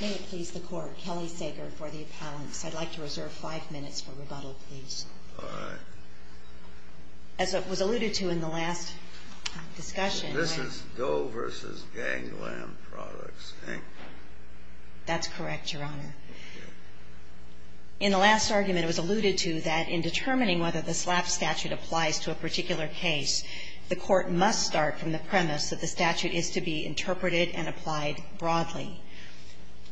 May it please the Court, Kelly Sager for the appellants. I'd like to reserve five minutes for rebuttal, please. All right. As it was alluded to in the last discussion— This is Doe v. Gangland Products, Inc. That's correct, Your Honor. In the last argument, it was alluded to that in determining whether the SLAP statute applies to a particular case, the Court must start from the premise that the statute is to be interpreted and applied broadly.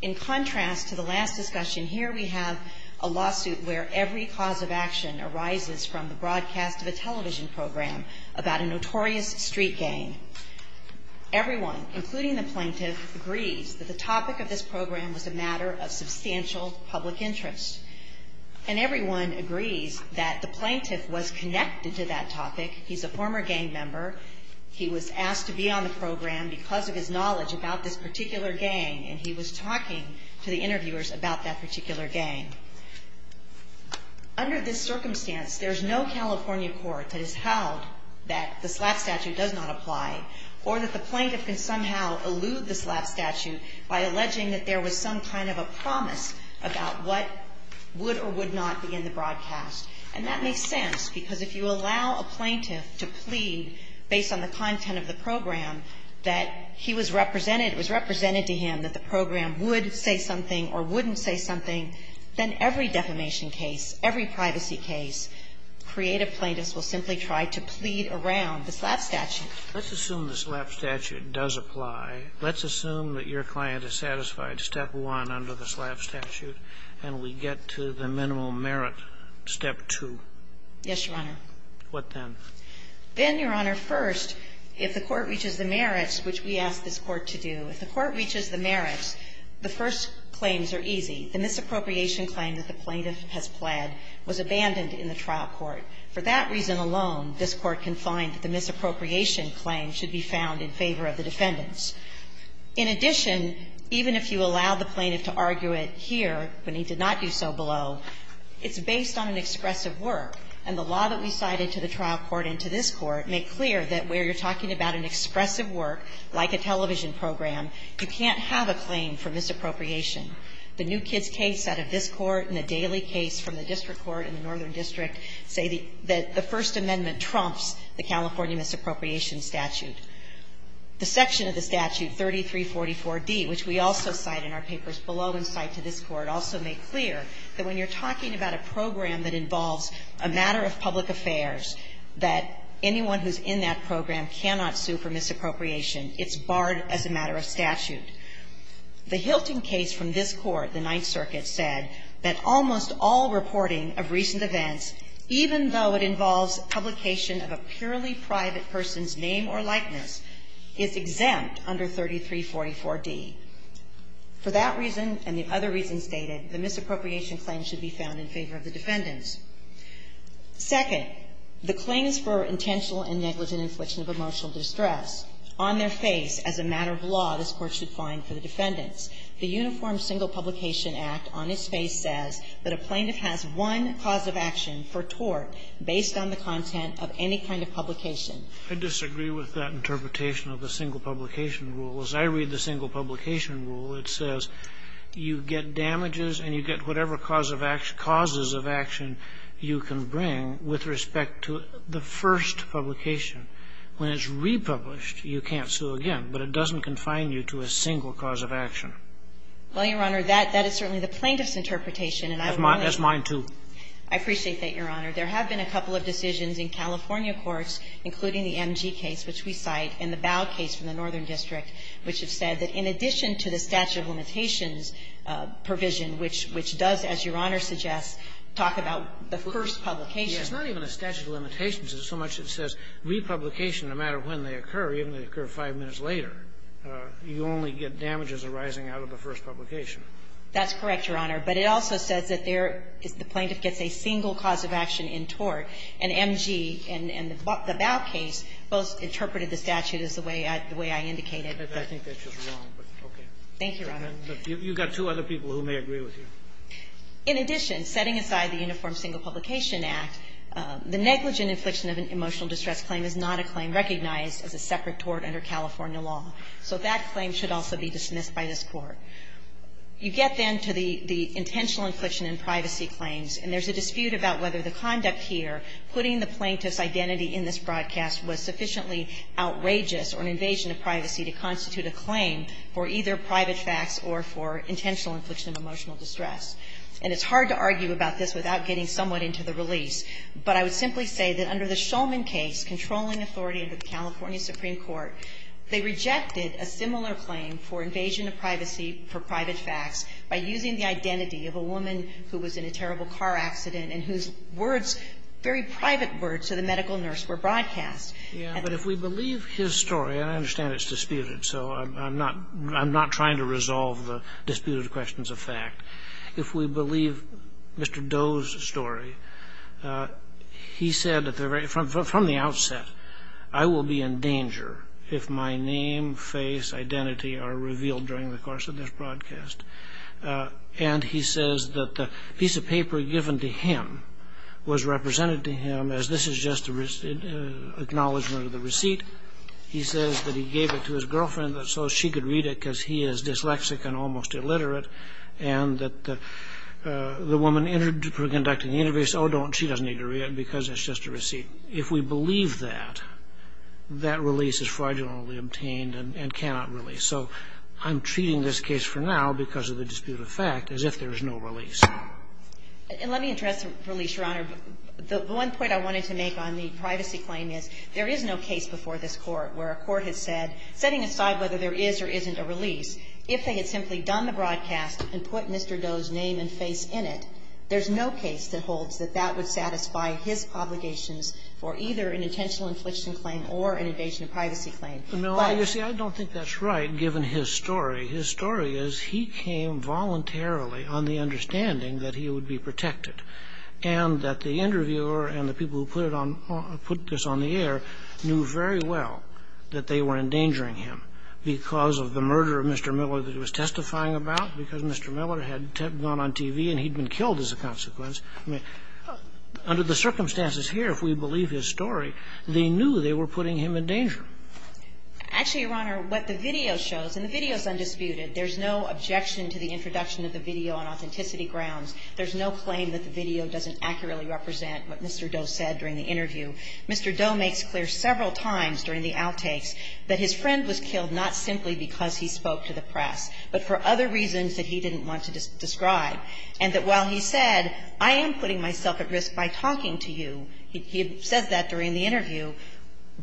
In contrast to the last discussion here, we have a lawsuit where every cause of action arises from the broadcast of a television program about a notorious street gang. Everyone, including the plaintiff, agrees that the topic of this program was a matter of substantial public interest. And everyone agrees that the plaintiff was connected to that topic. He's a former gang member. He was asked to be on the program because of his knowledge about this particular gang, and he was talking to the interviewers about that particular gang. Under this circumstance, there's no California court that has held that the SLAP statute does not apply, or that the plaintiff can somehow elude the SLAP statute by alleging that there was some kind of a promise about what would or would not be in the broadcast. And that makes sense, because if you allow a plaintiff to plead based on the content of the program that he was represented, it was represented to him that the program would say something or wouldn't say something, then every defamation case, every privacy case, creative plaintiffs will simply try to plead around the SLAP statute. Let's assume the SLAP statute does apply. Let's assume that your client is satisfied, step one, under the SLAP statute, and we get to the minimal merit, step two. Yes, Your Honor. What then? Then, Your Honor, first, if the Court reaches the merits, which we ask this Court to do, if the Court reaches the merits, the first claims are easy. The misappropriation claim that the plaintiff has pled was abandoned in the trial court. For that reason alone, this Court can find that the misappropriation claim should be found in favor of the defendants. In addition, even if you allow the plaintiff to argue it here when he did not do so below, it's based on an expressive work, and the law that we cited to the trial court and to this Court make clear that where you're talking about an expressive work, like a television program, you can't have a claim for misappropriation. The New Kids case out of this Court and the Daly case from the district court in the Northern District say that the First Amendment trumps the California misappropriation statute. The section of the statute 3344d, which we also cite in our papers below and cite to this Court, also make clear that when you're talking about a program that involves a matter of public affairs, that anyone who's in that program cannot sue for misappropriation. It's barred as a matter of statute. The Hilton case from this Court, the Ninth Circuit, said that almost all reporting of recent events, even though it involves publication of a purely private person's name or likeness, is exempt under 3344d. For that reason and the other reasons stated, the misappropriation claim should be found in favor of the defendants. Second, the claims for intentional and negligent infliction of emotional distress on their face as a matter of law, this Court should find for the defendants. The Uniform Single Publication Act on its face says that a plaintiff has one cause of action for tort based on the content of any kind of publication. I disagree with that interpretation of the single publication rule. As I read the single publication rule, it says you get damages and you get whatever cause of action, causes of action you can bring with respect to the first publication. When it's republished, you can't sue again, but it doesn't confine you to a single cause of action. Well, Your Honor, that is certainly the plaintiff's interpretation. That's mine, too. I appreciate that, Your Honor. There have been a couple of decisions in California courts, including the MG case, which we cite, and the Bow case from the Northern District, which have said that in addition to the statute of limitations provision, which does, as Your Honor suggests, talk about the first publication. It's not even a statute of limitations so much as it says republication no matter when they occur, even if they occur five minutes later, you only get damages arising out of the first publication. That's correct, Your Honor. But it also says that there is the plaintiff gets a single cause of action in tort. And MG and the Bow case both interpreted the statute as the way I indicated. I think that's just wrong, but okay. Thank you, Your Honor. You've got two other people who may agree with you. In addition, setting aside the Uniform Single Publication Act, the negligent infliction of an emotional distress claim is not a claim recognized as a separate tort under California law. So that claim should also be dismissed by this Court. You get then to the intentional infliction in privacy claims, and there's a dispute about whether the conduct here, putting the plaintiff's identity in this broadcast was sufficiently outrageous or an invasion of privacy to constitute a claim for either private facts or for intentional infliction of emotional distress. And it's hard to argue about this without getting somewhat into the release, but I would simply say that under the Shulman case, controlling authority under the California Supreme Court, they rejected a similar claim for invasion of privacy for private facts by using the identity of a woman who was in a terrible car accident and whose words, very private words to the medical nurse were broadcast. Yeah, but if we believe his story, and I understand it's disputed, so I'm not trying to resolve the disputed questions of fact. If we believe Mr. Doe's story, he said from the outset, I will be in danger if my name, face, identity are revealed during the course of this broadcast. And he says that the piece of paper given to him was represented to him as this is just an acknowledgment of the receipt. He says that he gave it to his girlfriend so she could read it because he is dyslexic and almost illiterate, and that the woman interpreting the interview said, oh, she doesn't need to read it because it's just a receipt. If we believe that, that release is fraudulently obtained and cannot release. So I'm treating this case for now, because of the disputed fact, as if there is no And let me address the release, Your Honor. The one point I wanted to make on the privacy claim is there is no case before this Court where a court has said, setting aside whether there is or isn't a release, if they had simply done the broadcast and put Mr. Doe's name and face in it, there's no case that holds that that would satisfy his obligations for either an intentional infliction claim or an invasion of privacy claim. But you see, I don't think that's right, given his story. His story is he came voluntarily on the understanding that he would be protected and that the interviewer and the people who put this on the air knew very well that they were endangering him because of the murder of Mr. Miller that he was testifying about, because Mr. Miller had gone on TV and he'd been killed as a consequence. Under the circumstances here, if we believe his story, they knew they were putting him in danger. Actually, Your Honor, what the video shows, and the video is undisputed. There's no objection to the introduction of the video on authenticity grounds. There's no claim that the video doesn't accurately represent what Mr. Doe said during the interview. Mr. Doe makes clear several times during the outtakes that his friend was killed not simply because he spoke to the press, but for other reasons that he didn't want to describe, and that while he said, I am putting myself at risk by talking to you, he says that during the interview,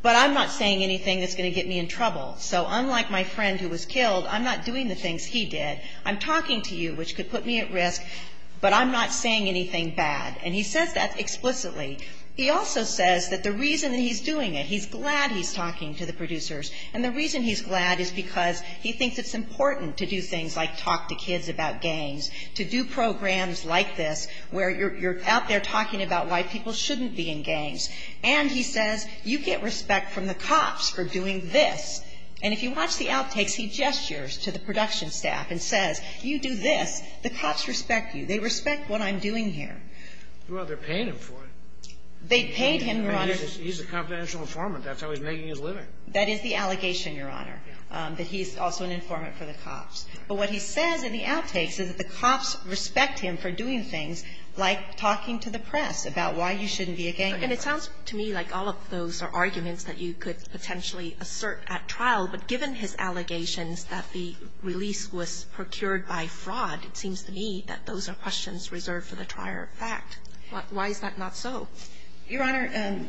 but I'm not saying anything that's going to get me in trouble. So unlike my friend who was killed, I'm not doing the things he did. I'm talking to you, which could put me at risk, but I'm not saying anything bad, and he says that explicitly. He also says that the reason that he's doing it, he's glad he's talking to the producers, and the reason he's glad is because he thinks it's important to do things like talk to kids about gangs, to do programs like this where you're out there talking about why people shouldn't be in gangs. And he says, you get respect from the cops for doing this. And if you watch the outtakes, he gestures to the production staff and says, you do this, the cops respect you. They respect what I'm doing here. Well, they're paying him for it. They paid him, Your Honor. He's a confidential informant. That's how he's making his living. That is the allegation, Your Honor, that he's also an informant for the cops. But what he says in the outtakes is that the cops respect him for doing things like talking to the press about why you shouldn't be a gang member. And it sounds to me like all of those are arguments that you could potentially assert at trial, but given his allegations that the release was procured by fraud, it seems to me that those are questions reserved for the trier of fact. Why is that not so? Your Honor,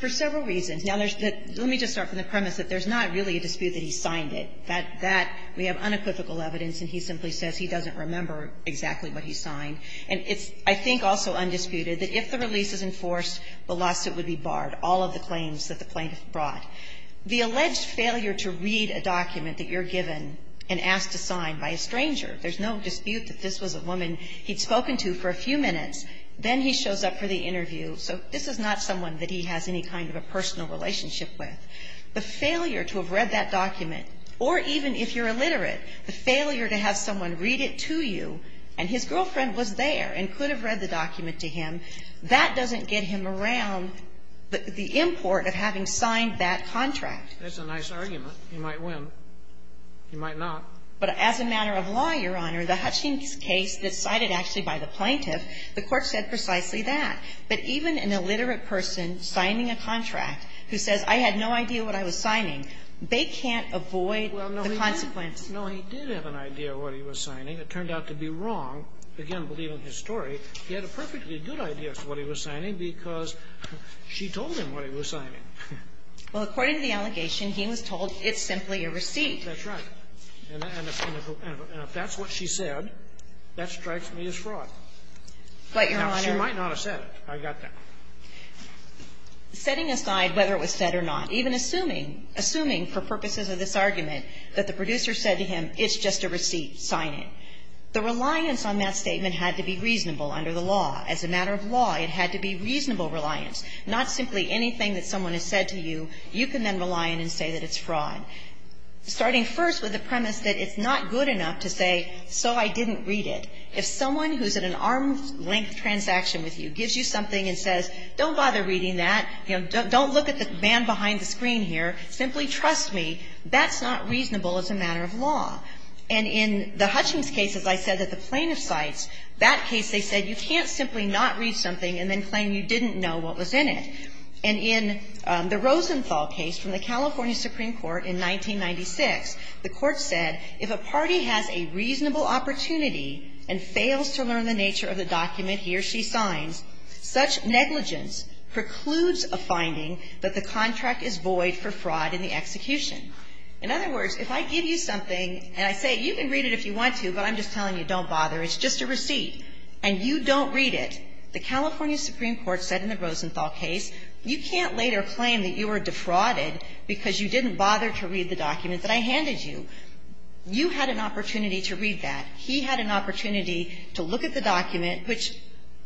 for several reasons. Now, let me just start from the premise that there's not really a dispute that he signed it. That we have unequivocal evidence, and he simply says he doesn't remember exactly what he signed. And it's, I think, also undisputed that if the release is enforced, the lawsuit would be barred, all of the claims that the plaintiff brought. The alleged failure to read a document that you're given and asked to sign by a stranger, there's no dispute that this was a woman he'd spoken to for a few minutes. Then he shows up for the interview. So this is not someone that he has any kind of a personal relationship with. The failure to have read that document, or even if you're illiterate, the failure to have someone read it to you, and his girlfriend was there and could have read the the import of having signed that contract. That's a nice argument. He might win. He might not. But as a matter of law, Your Honor, the Hutchings case that's cited actually by the plaintiff, the Court said precisely that. But even an illiterate person signing a contract who says, I had no idea what I was signing, they can't avoid the consequence. No, he did have an idea of what he was signing. It turned out to be wrong. Again, believe in his story. He had a perfectly good idea as to what he was signing because she told him what he was signing. Well, according to the allegation, he was told it's simply a receipt. That's right. And if that's what she said, that strikes me as fraud. But, Your Honor. She might not have said it. I got that. Setting aside whether it was said or not, even assuming, assuming for purposes of this argument, that the producer said to him, it's just a receipt, sign it, the matter of law, it had to be reasonable reliance, not simply anything that someone has said to you, you can then rely on and say that it's fraud. Starting first with the premise that it's not good enough to say, so I didn't read it. If someone who's in an arm's-length transaction with you gives you something and says, don't bother reading that, you know, don't look at the man behind the screen here, simply trust me, that's not reasonable as a matter of law. And in the Hutchings case, as I said, that the plaintiff cites, that case they said you can't simply not read something and then claim you didn't know what was in it. And in the Rosenthal case from the California Supreme Court in 1996, the court said if a party has a reasonable opportunity and fails to learn the nature of the document he or she signs, such negligence precludes a finding that the contract is void for fraud in the execution. In other words, if I give you something and I say you can read it if you want to, but I'm just telling you don't bother, it's just a receipt, and you don't read it, the California Supreme Court said in the Rosenthal case you can't later claim that you were defrauded because you didn't bother to read the document that I handed you. You had an opportunity to read that. He had an opportunity to look at the document, which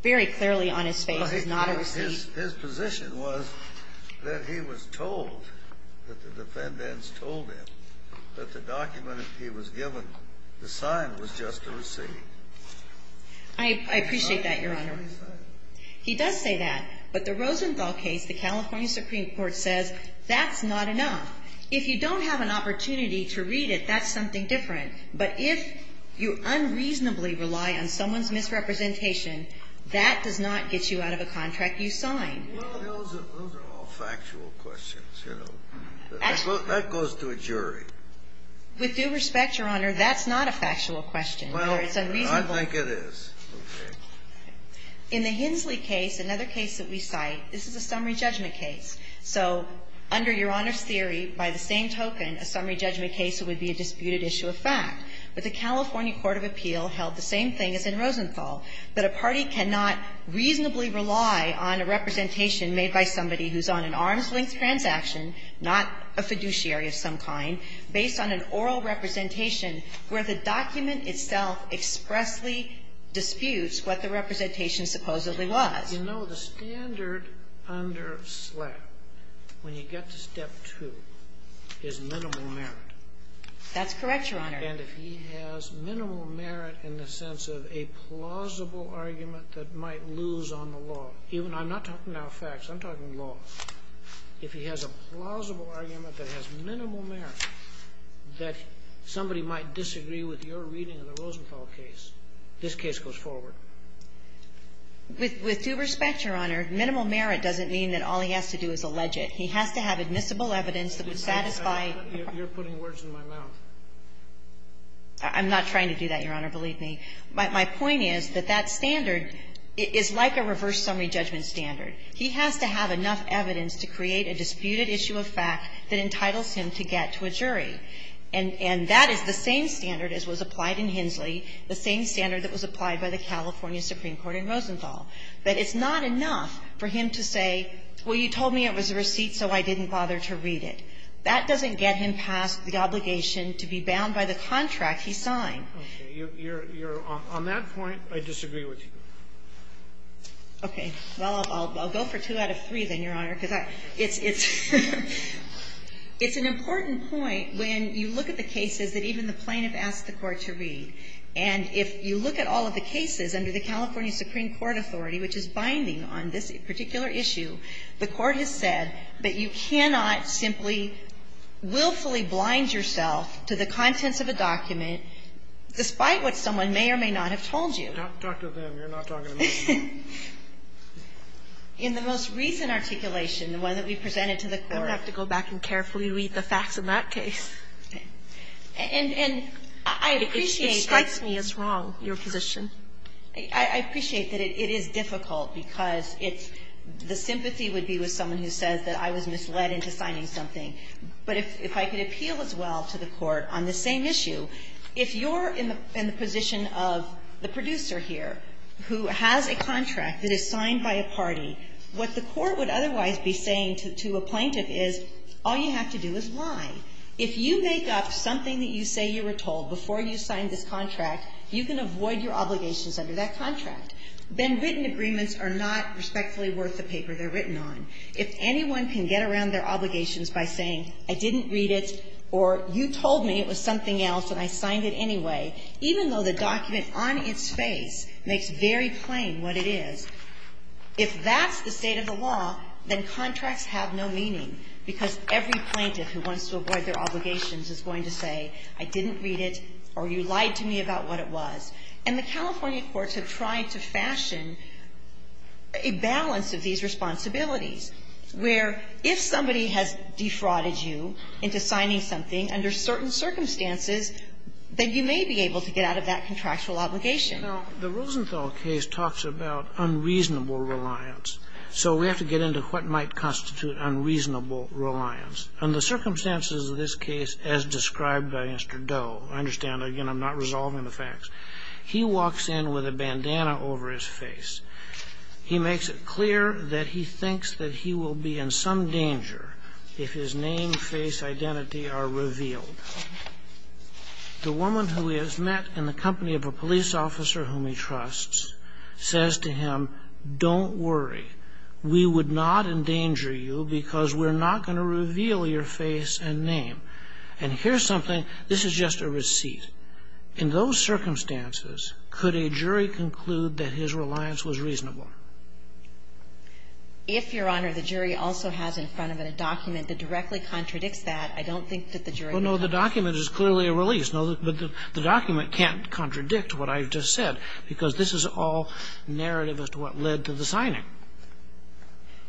very clearly on his face is not a receipt. His position was that he was told, that the defendants told him that the document he was given, the sign was just a receipt. I appreciate that, Your Honor. He does say that. But the Rosenthal case, the California Supreme Court says that's not enough. If you don't have an opportunity to read it, that's something different. But if you unreasonably rely on someone's misrepresentation, that does not get you out of a contract you signed. Scalia, those are all factual questions. That goes to a jury. With due respect, Your Honor, that's not a factual question. It's unreasonable. I think it is. In the Hensley case, another case that we cite, this is a summary judgment case. So under Your Honor's theory, by the same token, a summary judgment case would be a disputed issue of fact. So the defendant cannot reasonably rely on a representation made by somebody who's on an arm's-length transaction, not a fiduciary of some kind, based on an oral representation where the document itself expressly disputes what the representation supposedly was. You know, the standard under SLAP, when you get to Step 2, is minimal merit. That's correct, Your Honor. And if he has minimal merit in the sense of a plausible argument that might lose on the law. I'm not talking now facts. I'm talking law. If he has a plausible argument that has minimal merit, that somebody might disagree with your reading of the Rosenthal case, this case goes forward. With due respect, Your Honor, minimal merit doesn't mean that all he has to do is allege it. He has to have admissible evidence that would satisfy ---- You're putting words in my mouth. I'm not trying to do that, Your Honor. Believe me. My point is that that standard is like a reverse summary judgment standard. He has to have enough evidence to create a disputed issue of fact that entitles him to get to a jury. And that is the same standard as was applied in Hensley, the same standard that was applied by the California Supreme Court in Rosenthal. But it's not enough for him to say, well, you told me it was a receipt, so I didn't bother to read it. That doesn't get him past the obligation to be bound by the contract he signed. You're on that point. I disagree with you. Okay. Well, I'll go for two out of three then, Your Honor, because I ---- it's an important point when you look at the cases that even the plaintiff asked the Court to read. And if you look at all of the cases under the California Supreme Court authority, which is binding on this particular issue, the Court has said that you cannot simply willfully blind yourself to the contents of a document, despite what someone may or may not have told you. Talk to them. You're not talking to me. In the most recent articulation, the one that we presented to the Court ---- I'm going to have to go back and carefully read the facts in that case. And I appreciate that ---- It strikes me as wrong, your position. I appreciate that it is difficult because it's ---- the sympathy would be with someone who says that I was misled into signing something. But if I could appeal as well to the Court on the same issue, if you're in the position of the producer here who has a contract that is signed by a party, what the Court would otherwise be saying to a plaintiff is, all you have to do is lie. If you make up something that you say you were told before you signed this contract, you can avoid your obligations under that contract. Then written agreements are not respectfully worth the paper they're written on. If anyone can get around their obligations by saying I didn't read it or you told me it was something else and I signed it anyway, even though the document on its face makes very plain what it is, if that's the state of the law, then contracts have no meaning, because every plaintiff who wants to avoid their obligations is going to say, I didn't read it or you lied to me about what it was. And the California courts have tried to fashion a balance of these responsibilities, where if somebody has defrauded you into signing something under certain circumstances, then you may be able to get out of that contractual obligation. Now, the Rosenthal case talks about unreasonable reliance. So we have to get into what might constitute unreasonable reliance. Under the circumstances of this case, as described by Mr. Doe, I understand. Again, I'm not resolving the facts. He walks in with a bandana over his face. He makes it clear that he thinks that he will be in some danger if his name, face, identity are revealed. The woman who he has met in the company of a police officer whom he trusts says to him, don't worry. We would not endanger you, because we're not going to reveal your face and name. And here's something. This is just a receipt. In those circumstances, could a jury conclude that his reliance was reasonable? If, Your Honor, the jury also has in front of it a document that directly contradicts that, I don't think that the jury would have that. Well, no, the document is clearly a release. No, but the document can't contradict what I just said, because this is all narrative as to what led to the signing.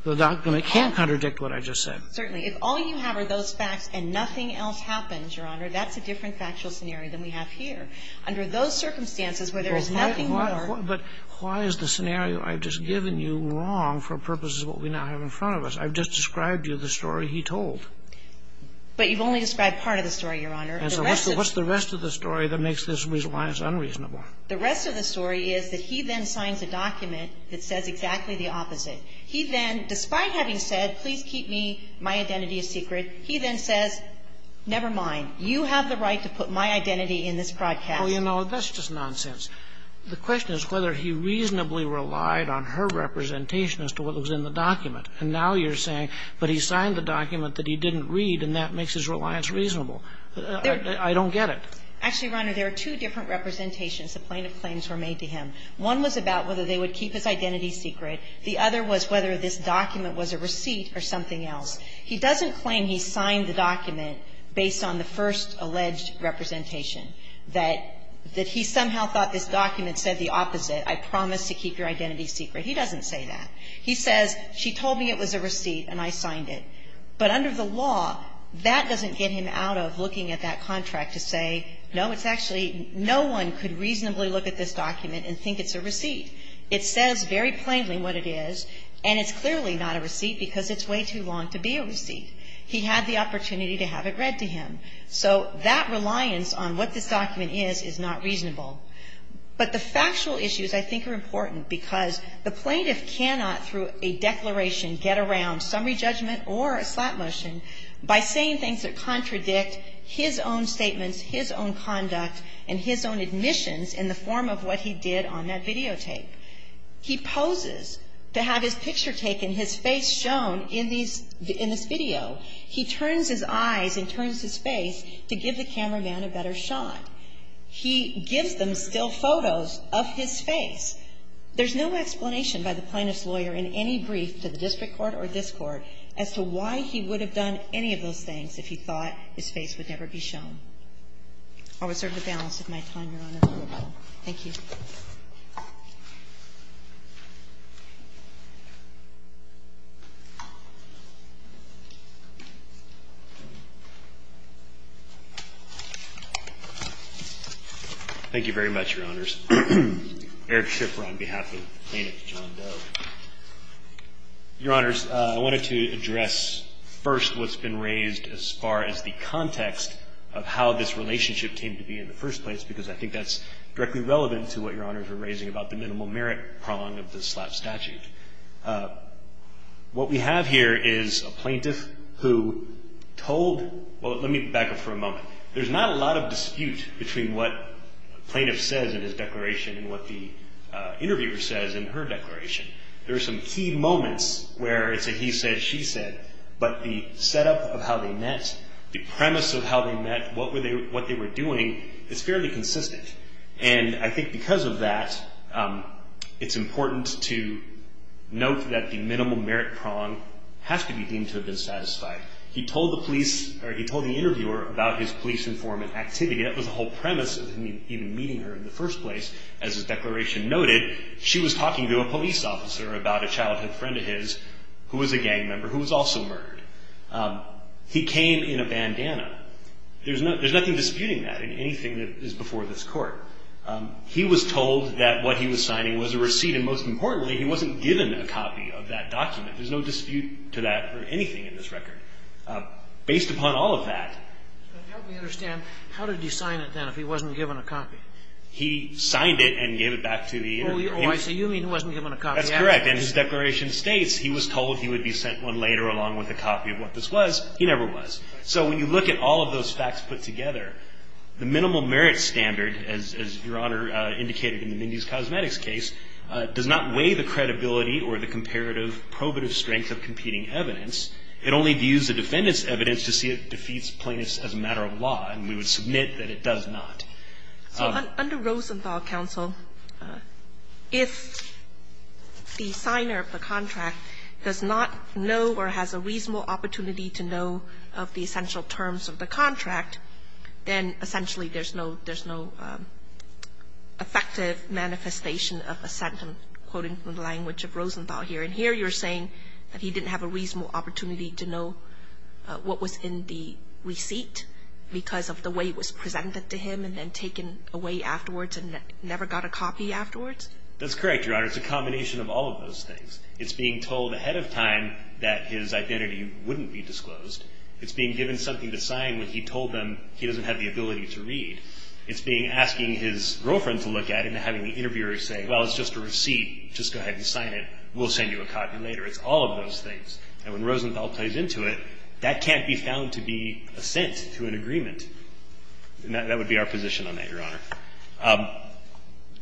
The document can't contradict what I just said. Certainly. If all you have are those facts and nothing else happens, Your Honor, that's a different factual scenario than we have here. Under those circumstances where there is nothing more. But why is the scenario I've just given you wrong for purposes of what we now have in front of us? I've just described to you the story he told. But you've only described part of the story, Your Honor. And so what's the rest of the story that makes this reliance unreasonable? The rest of the story is that he then signs a document that says exactly the opposite. He then, despite having said, please keep me, my identity a secret, he then says, never mind, you have the right to put my identity in this broadcast. Well, you know, that's just nonsense. The question is whether he reasonably relied on her representation as to what was in the document. And now you're saying, but he signed the document that he didn't read, and that makes his reliance reasonable. I don't get it. Actually, Your Honor, there are two different representations the plaintiff claims were made to him. One was about whether they would keep his identity secret. The other was whether this document was a receipt or something else. He doesn't claim he signed the document based on the first alleged representation, that he somehow thought this document said the opposite, I promise to keep your identity secret. He doesn't say that. He says, she told me it was a receipt and I signed it. But under the law, that doesn't get him out of looking at that contract to say, no, it's actually, no one could reasonably look at this document and think it's a receipt. It says very plainly what it is, and it's clearly not a receipt because it's way too long to be a receipt. He had the opportunity to have it read to him. So that reliance on what this document is is not reasonable. get around summary judgment or a slap motion by saying things that contradict his own statements, his own conduct, and his own admissions in the form of what he did on that videotape. He poses to have his picture taken, his face shown in these, in this video. He turns his eyes and turns his face to give the cameraman a better shot. He gives them still photos of his face. There's no explanation by the plaintiff's lawyer in any brief to the district court or this court as to why he would have done any of those things if he thought his face would never be shown. I'll reserve the balance of my time, Your Honor. Thank you. Thank you very much, Your Honors. Eric Schiffer on behalf of the plaintiff, John Doe. Your Honors, I wanted to address first what's been raised as far as the context of how this relationship came to be in the first place, because I think that's lawyer. about the minimal merit prong of the slap statute. What we have here is a plaintiff who told, well, let me back up for a moment. There's not a lot of dispute between what plaintiff says in his declaration and what the interviewer says in her declaration. There are some key moments where it's a he said, she said, but the setup of how they met, the premise of how they met, what they were doing is fairly consistent. And I think because of that, it's important to note that the minimal merit prong has to be deemed to have been satisfied. He told the police, or he told the interviewer about his police informant activity. That was the whole premise of him even meeting her in the first place. As his declaration noted, she was talking to a police officer about a childhood friend of his who was a gang member who was also murdered. He came in a bandana. There's nothing disputing that in anything that is before this Court. He was told that what he was signing was a receipt. And most importantly, he wasn't given a copy of that document. There's no dispute to that or anything in this record. Based upon all of that. But help me understand, how did he sign it then if he wasn't given a copy? He signed it and gave it back to the interviewer. Oh, I see. You mean he wasn't given a copy afterwards. That's correct. And his declaration states he was told he would be sent one later along with a copy of what this was. He never was. So when you look at all of those facts put together, the minimal merit standard, as Your Honor indicated in the Mindy's Cosmetics case, does not weigh the credibility or the comparative probative strength of competing evidence. It only views the defendant's evidence to see it defeats plainness as a matter of law. And we would submit that it does not. So under Rosenthal counsel, if the signer of the contract does not know or has a reasonable opportunity to know of the essential terms of the contract, then essentially there's no effective manifestation of assent, I'm quoting from the language of Rosenthal here. And here you're saying that he didn't have a reasonable opportunity to know what was in the receipt because of the way it was presented to him and then taken away afterwards and never got a copy afterwards? That's correct, Your Honor. It's a combination of all of those things. It's being told ahead of time that his identity wouldn't be disclosed. It's being given something to sign when he told them he doesn't have the ability to read. It's being asking his girlfriend to look at it and having the interviewer say, well, it's just a receipt. Just go ahead and sign it. We'll send you a copy later. It's all of those things. And when Rosenthal plays into it, that can't be found to be assent to an agreement. And that would be our position on that, Your Honor.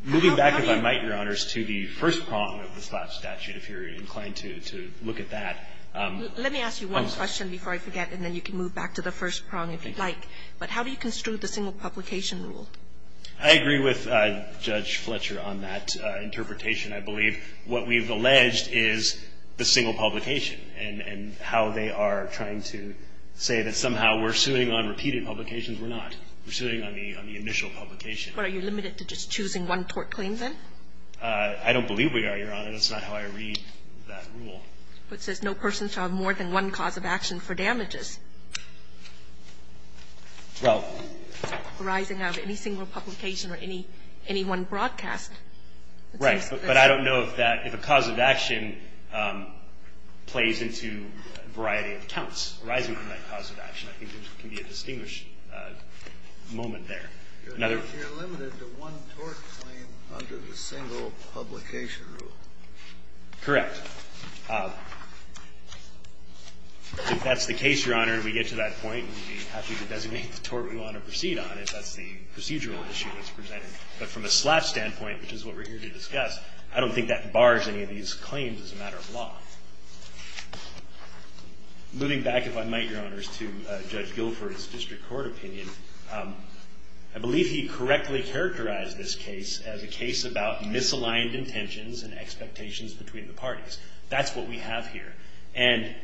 Moving back, if I might, Your Honors, to the first prong of the Slab statute, if you're inclined to look at that. Let me ask you one question before I forget, and then you can move back to the first prong if you'd like. But how do you construe the single publication rule? I agree with Judge Fletcher on that interpretation, I believe. What we've alleged is the single publication and how they are trying to say that somehow we're suing on repeated publications, we're not. We're suing on the initial publication. But are you limited to just choosing one tort claim, then? I don't believe we are, Your Honor. That's not how I read that rule. But it says no person shall have more than one cause of action for damages. Well. Arising out of any single publication or any one broadcast. Right. But I don't know if a cause of action plays into a variety of accounts. Arising from that cause of action, I think there can be a distinguished moment there. If you're limited to one tort claim under the single publication rule. Correct. If that's the case, Your Honor, and we get to that point, we'd be happy to designate the tort we want to proceed on if that's the procedural issue that's presented. But from a Slab standpoint, which is what we're here to discuss, I don't think that bars any of these claims as a matter of law. Moving back, if I might, Your Honors, to Judge Guilford's district court opinion. I believe he correctly characterized this case as a case about misaligned intentions and expectations between the parties. That's what we have here. And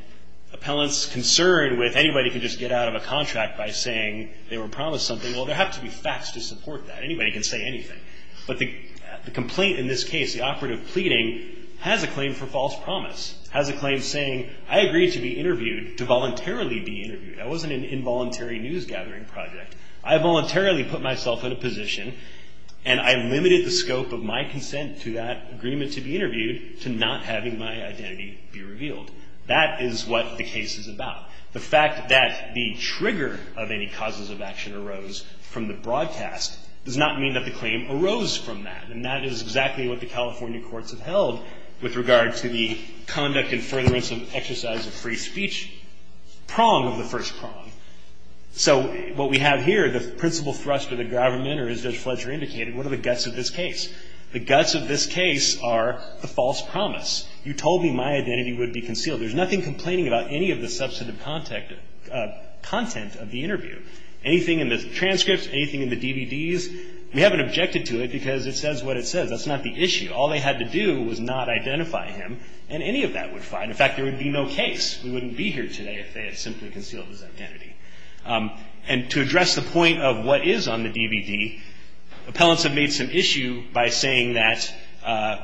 appellants' concern with anybody can just get out of a contract by saying they were promised something. Well, there have to be facts to support that. Anybody can say anything. But the complaint in this case, the operative pleading, has a claim for false promise. It has a claim saying, I agree to be interviewed, to voluntarily be interviewed. That wasn't an involuntary news gathering project. I voluntarily put myself in a position, and I limited the scope of my consent to that agreement to be interviewed to not having my identity be revealed. That is what the case is about. The fact that the trigger of any causes of action arose from the broadcast does not mean that the claim arose from that. And that is exactly what the California courts have held with regard to the conduct and furtherance of exercise of free speech prong of the first prong. So what we have here, the principal thrust of the government, or as Judge Fletcher indicated, what are the guts of this case? The guts of this case are the false promise. You told me my identity would be concealed. There's nothing complaining about any of the substantive content of the interview, anything in the transcripts, anything in the DVDs. We haven't objected to it because it says what it says. That's not the issue. All they had to do was not identify him, and any of that would fine. In fact, there would be no case. We wouldn't be here today if they had simply concealed his identity. And to address the point of what is on the DVD, appellants have made some issue by saying that,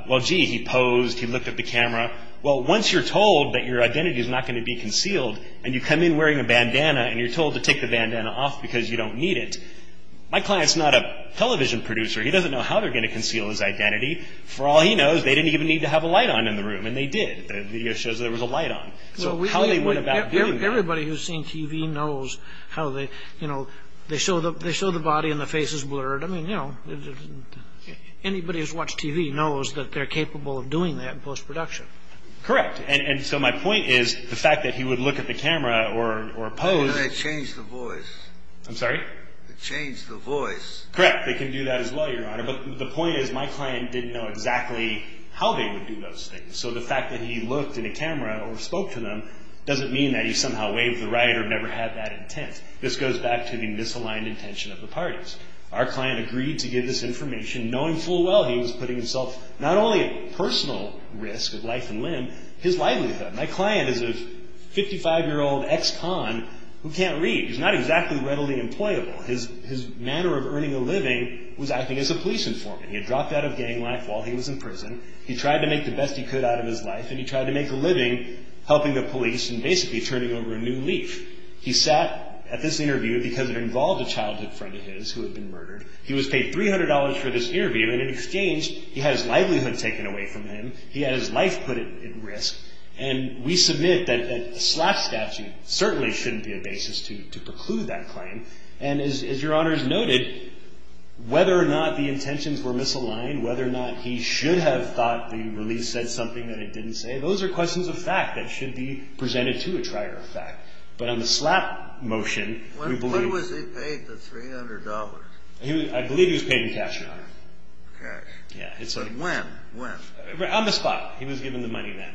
well, gee, he posed, he looked at the camera. Well, once you're told that your identity is not going to be concealed, and you come in wearing a bandana, and you're told to take the bandana off because you don't need it, my client's not a television producer. He doesn't know how they're going to conceal his identity. For all he knows, they didn't even need to have a light on in the room, and they did. The video shows there was a light on. So how they went about getting that. Everybody who's seen TV knows how they, you know, they show the body and the face is blurred. I mean, you know, anybody who's watched TV knows that they're capable of doing that in postproduction. Correct. And so my point is the fact that he would look at the camera or pose. They changed the voice. I'm sorry? They changed the voice. Correct. They can do that as well, Your Honor. But the point is my client didn't know exactly how they would do those things. So the fact that he looked at a camera or spoke to them doesn't mean that he somehow waved the right or never had that intent. This goes back to the misaligned intention of the parties. Our client agreed to give this information knowing full well he was putting himself not only at personal risk of life and limb, his livelihood. My client is a 55-year-old ex-con who can't read. He's not exactly readily employable. His manner of earning a living was acting as a police informant. He had dropped out of gang life while he was in prison. He tried to make the best he could out of his life, and he tried to make a living helping the police and basically turning over a new leaf. He sat at this interview because it involved a childhood friend of his who had been murdered. He was paid $300 for this interview, and in exchange he had his livelihood taken away from him. He had his life put at risk. And we submit that a SLAPP statute certainly shouldn't be a basis to preclude that claim. And as Your Honors noted, whether or not the intentions were misaligned, whether or not he should have thought the release said something that it didn't say, those are questions of fact that should be presented to a trier of fact. But on the SLAPP motion, we believe – When was he paid the $300? I believe he was paid in cash, Your Honor. Okay. But when? When? On the spot. He was given the money then.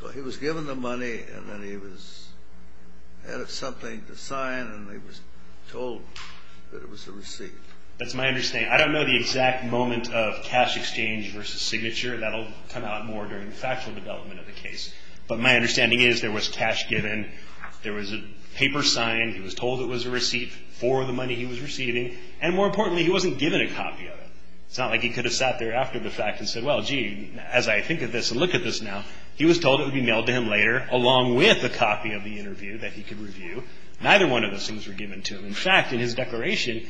So he was given the money, and then he was added something to sign, and he was told that it was a receipt. That's my understanding. I don't know the exact moment of cash exchange versus signature. That will come out more during the factual development of the case. But my understanding is there was cash given. There was a paper signed. He was told it was a receipt for the money he was receiving. And more importantly, he wasn't given a copy of it. It's not like he could have sat there after the fact and said, well, gee, as I think of this and look at this now. He was told it would be mailed to him later along with a copy of the interview that he could review. Neither one of those things were given to him. In fact, in his declaration,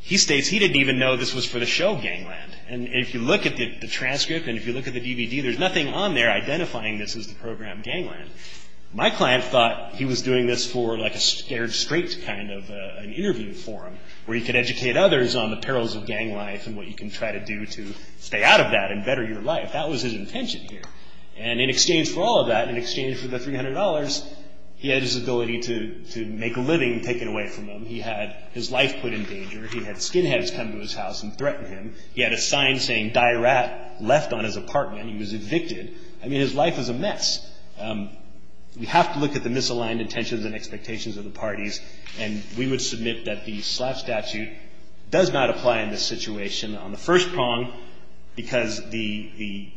he states he didn't even know this was for the show Gangland. And if you look at the transcript and if you look at the DVD, there's nothing on there identifying this as the program Gangland. My client thought he was doing this for like a scared straight kind of an interview forum where he could educate others on the perils of gang life and what you can try to do to stay out of that and better your life. That was his intention here. And in exchange for all of that, in exchange for the $300, he had his ability to make a living taken away from him. He had his life put in danger. He had skinheads come to his house and threaten him. He had a sign saying, die rat, left on his apartment. He was evicted. I mean, his life was a mess. We have to look at the misaligned intentions and expectations of the parties. And we would submit that the slap statute does not apply in this situation on the first prong because the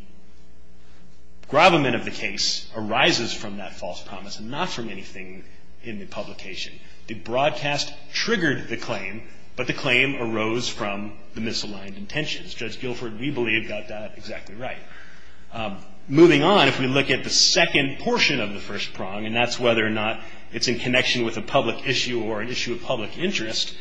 grovelment of the case arises from that false promise and not from anything in the publication. The broadcast triggered the claim, but the claim arose from the misaligned intentions. Judge Guilford, we believe, got that exactly right. Moving on, if we look at the second portion of the first prong, and that's whether or not it's in connection with a public issue or an issue of public interest,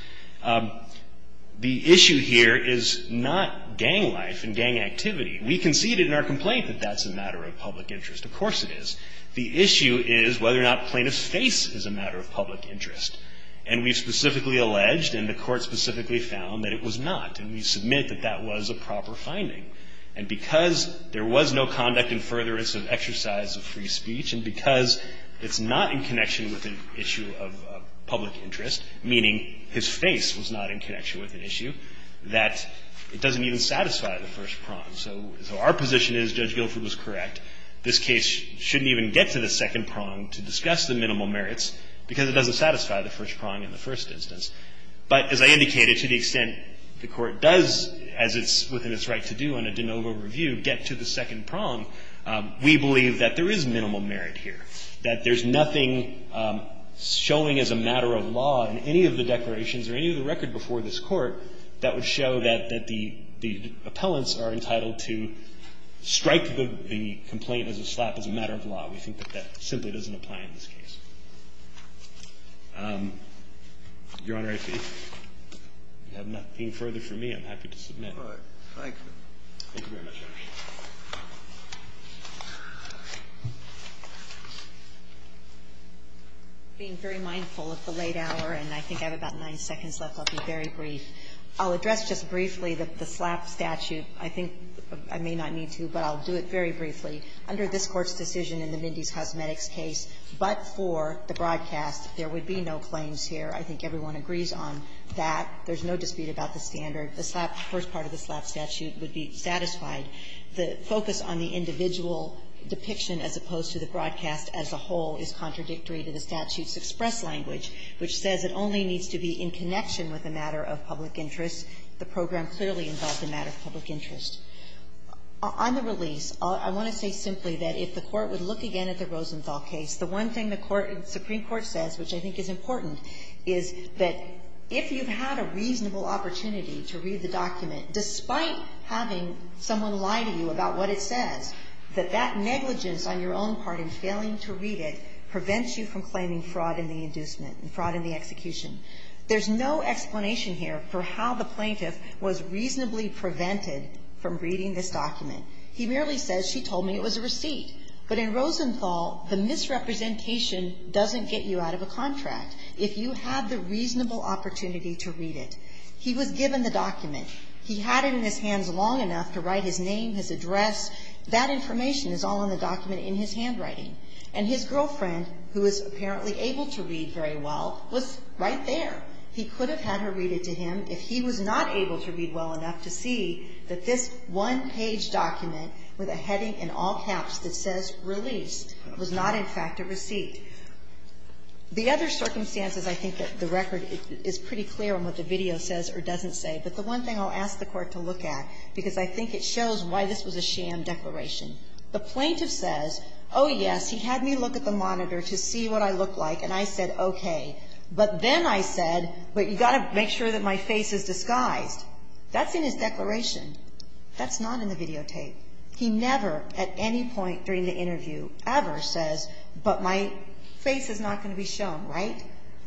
the issue here is not gang life and gang activity. We conceded in our complaint that that's a matter of public interest. Of course it is. The issue is whether or not plaintiff's face is a matter of public interest. And we specifically alleged, and the Court specifically found, that it was not. And we submit that that was a proper finding. And because there was no conduct in furtherance of exercise of free speech, and because it's not in connection with an issue of public interest, meaning his face was not in connection with an issue, that it doesn't even satisfy the first prong. So our position is Judge Guilford was correct. This case shouldn't even get to the second prong to discuss the minimal merits because it doesn't satisfy the first prong in the first instance. But as I indicated, to the extent the Court does, as it's within its right to do on a de novo review, get to the second prong, we believe that there is minimal merit here, that there's nothing showing as a matter of law in any of the declarations or any of the record before this Court that would show that the appellants are entitled to strike the complaint as a slap as a matter of law. We think that that simply doesn't apply in this case. Your Honor, if you have nothing further for me, I'm happy to submit. Thank you. Thank you very much, Your Honor. Being very mindful of the late hour, and I think I have about nine seconds left, I'll be very brief. I'll address just briefly the slap statute. I think I may not need to, but I'll do it very briefly. Under this Court's decision in the Mindy's Cosmetics case, but for the broadcast, there would be no claims here. I think everyone agrees on that. There's no dispute about the standard. The slap, the first part of the slap statute would be satisfied. The focus on the individual depiction as opposed to the broadcast as a whole is contradictory to the statute's express language, which says it only needs to be in connection with a matter of public interest. The program clearly involves a matter of public interest. On the release, I want to say simply that if the Court would look again at the Rosenthal case, the one thing the Supreme Court says, which I think is important, is that if you've had a reasonable opportunity to read the document, despite having someone lie to you about what it says, that that negligence on your own part in failing to read it prevents you from claiming fraud in the inducement and fraud in the execution. There's no explanation here for how the plaintiff was reasonably prevented from reading this document. He merely says she told me it was a receipt. But in Rosenthal, the misrepresentation doesn't get you out of a contract. If you have the reasonable opportunity to read it. He was given the document. He had it in his hands long enough to write his name, his address. That information is all in the document in his handwriting. And his girlfriend, who is apparently able to read very well, was right there. He could have had her read it to him if he was not able to read well enough to see that this one-page document with a heading in all caps that says RELEASED was not, in fact, a receipt. The other circumstances, I think, that the record is pretty clear on what the video says or doesn't say, but the one thing I'll ask the Court to look at, because I think it shows why this was a sham declaration. The plaintiff says, oh, yes, he had me look at the monitor to see what I look like, and I said, okay, but then I said, wait, you've got to make sure that my face is disguised. That's in his declaration. That's not in the videotape. He never, at any point during the interview, ever says, but my face is not going to be shown, right?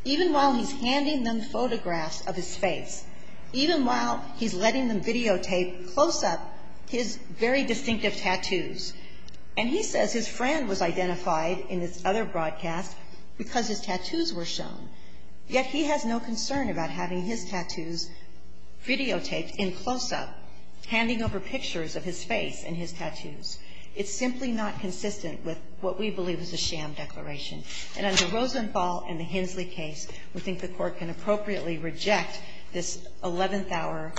Even while he's handing them photographs of his face, even while he's letting them videotape close-up his very distinctive tattoos. And he says his friend was identified in this other broadcast because his tattoos were shown, yet he has no concern about having his tattoos videotaped in close-up, handing over pictures of his face and his tattoos. It's simply not consistent with what we believe is a sham declaration. And under Rosenthal and the Hensley case, we think the Court can appropriately reject this 11th hour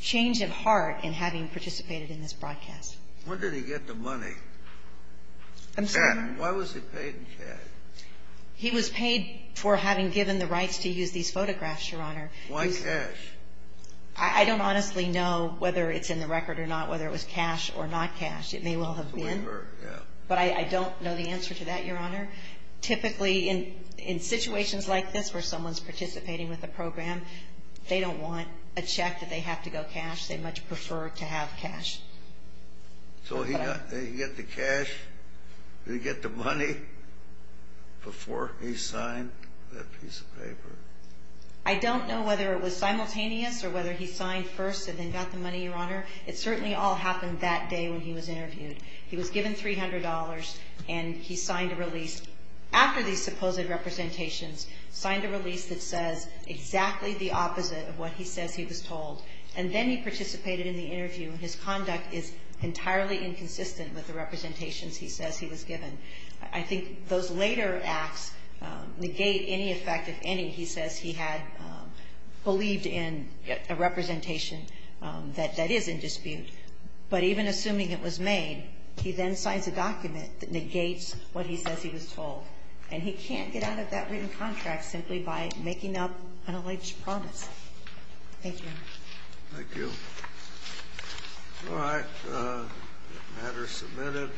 change of heart in having participated in this broadcast. When did he get the money? I'm sorry? Why was he paid in cash? He was paid for having given the rights to use these photographs, Your Honor. Why cash? I don't honestly know whether it's in the record or not, whether it was cash or not cash. It may well have been. But I don't know the answer to that, Your Honor. Typically, in situations like this, where someone's participating with a program, they don't want a check that they have to go cash. They much prefer to have cash. So he got the cash, did he get the money before he signed that piece of paper? I don't know whether it was simultaneous or whether he signed first and then got the money, Your Honor. It certainly all happened that day when he was interviewed. He was given $300 and he signed a release. After these supposed representations, signed a release that says exactly the opposite of what he says he was told. And then he participated in the interview and his conduct is entirely inconsistent with the representations he says he was given. I think those later acts negate any effect, if any, he says he had believed in a representation that is in dispute. But even assuming it was made, he then signs a document that negates what he says he was told. And he can't get out of that written contract simply by making up an alleged promise. Thank you, Your Honor. Thank you. All right, the matter is submitted.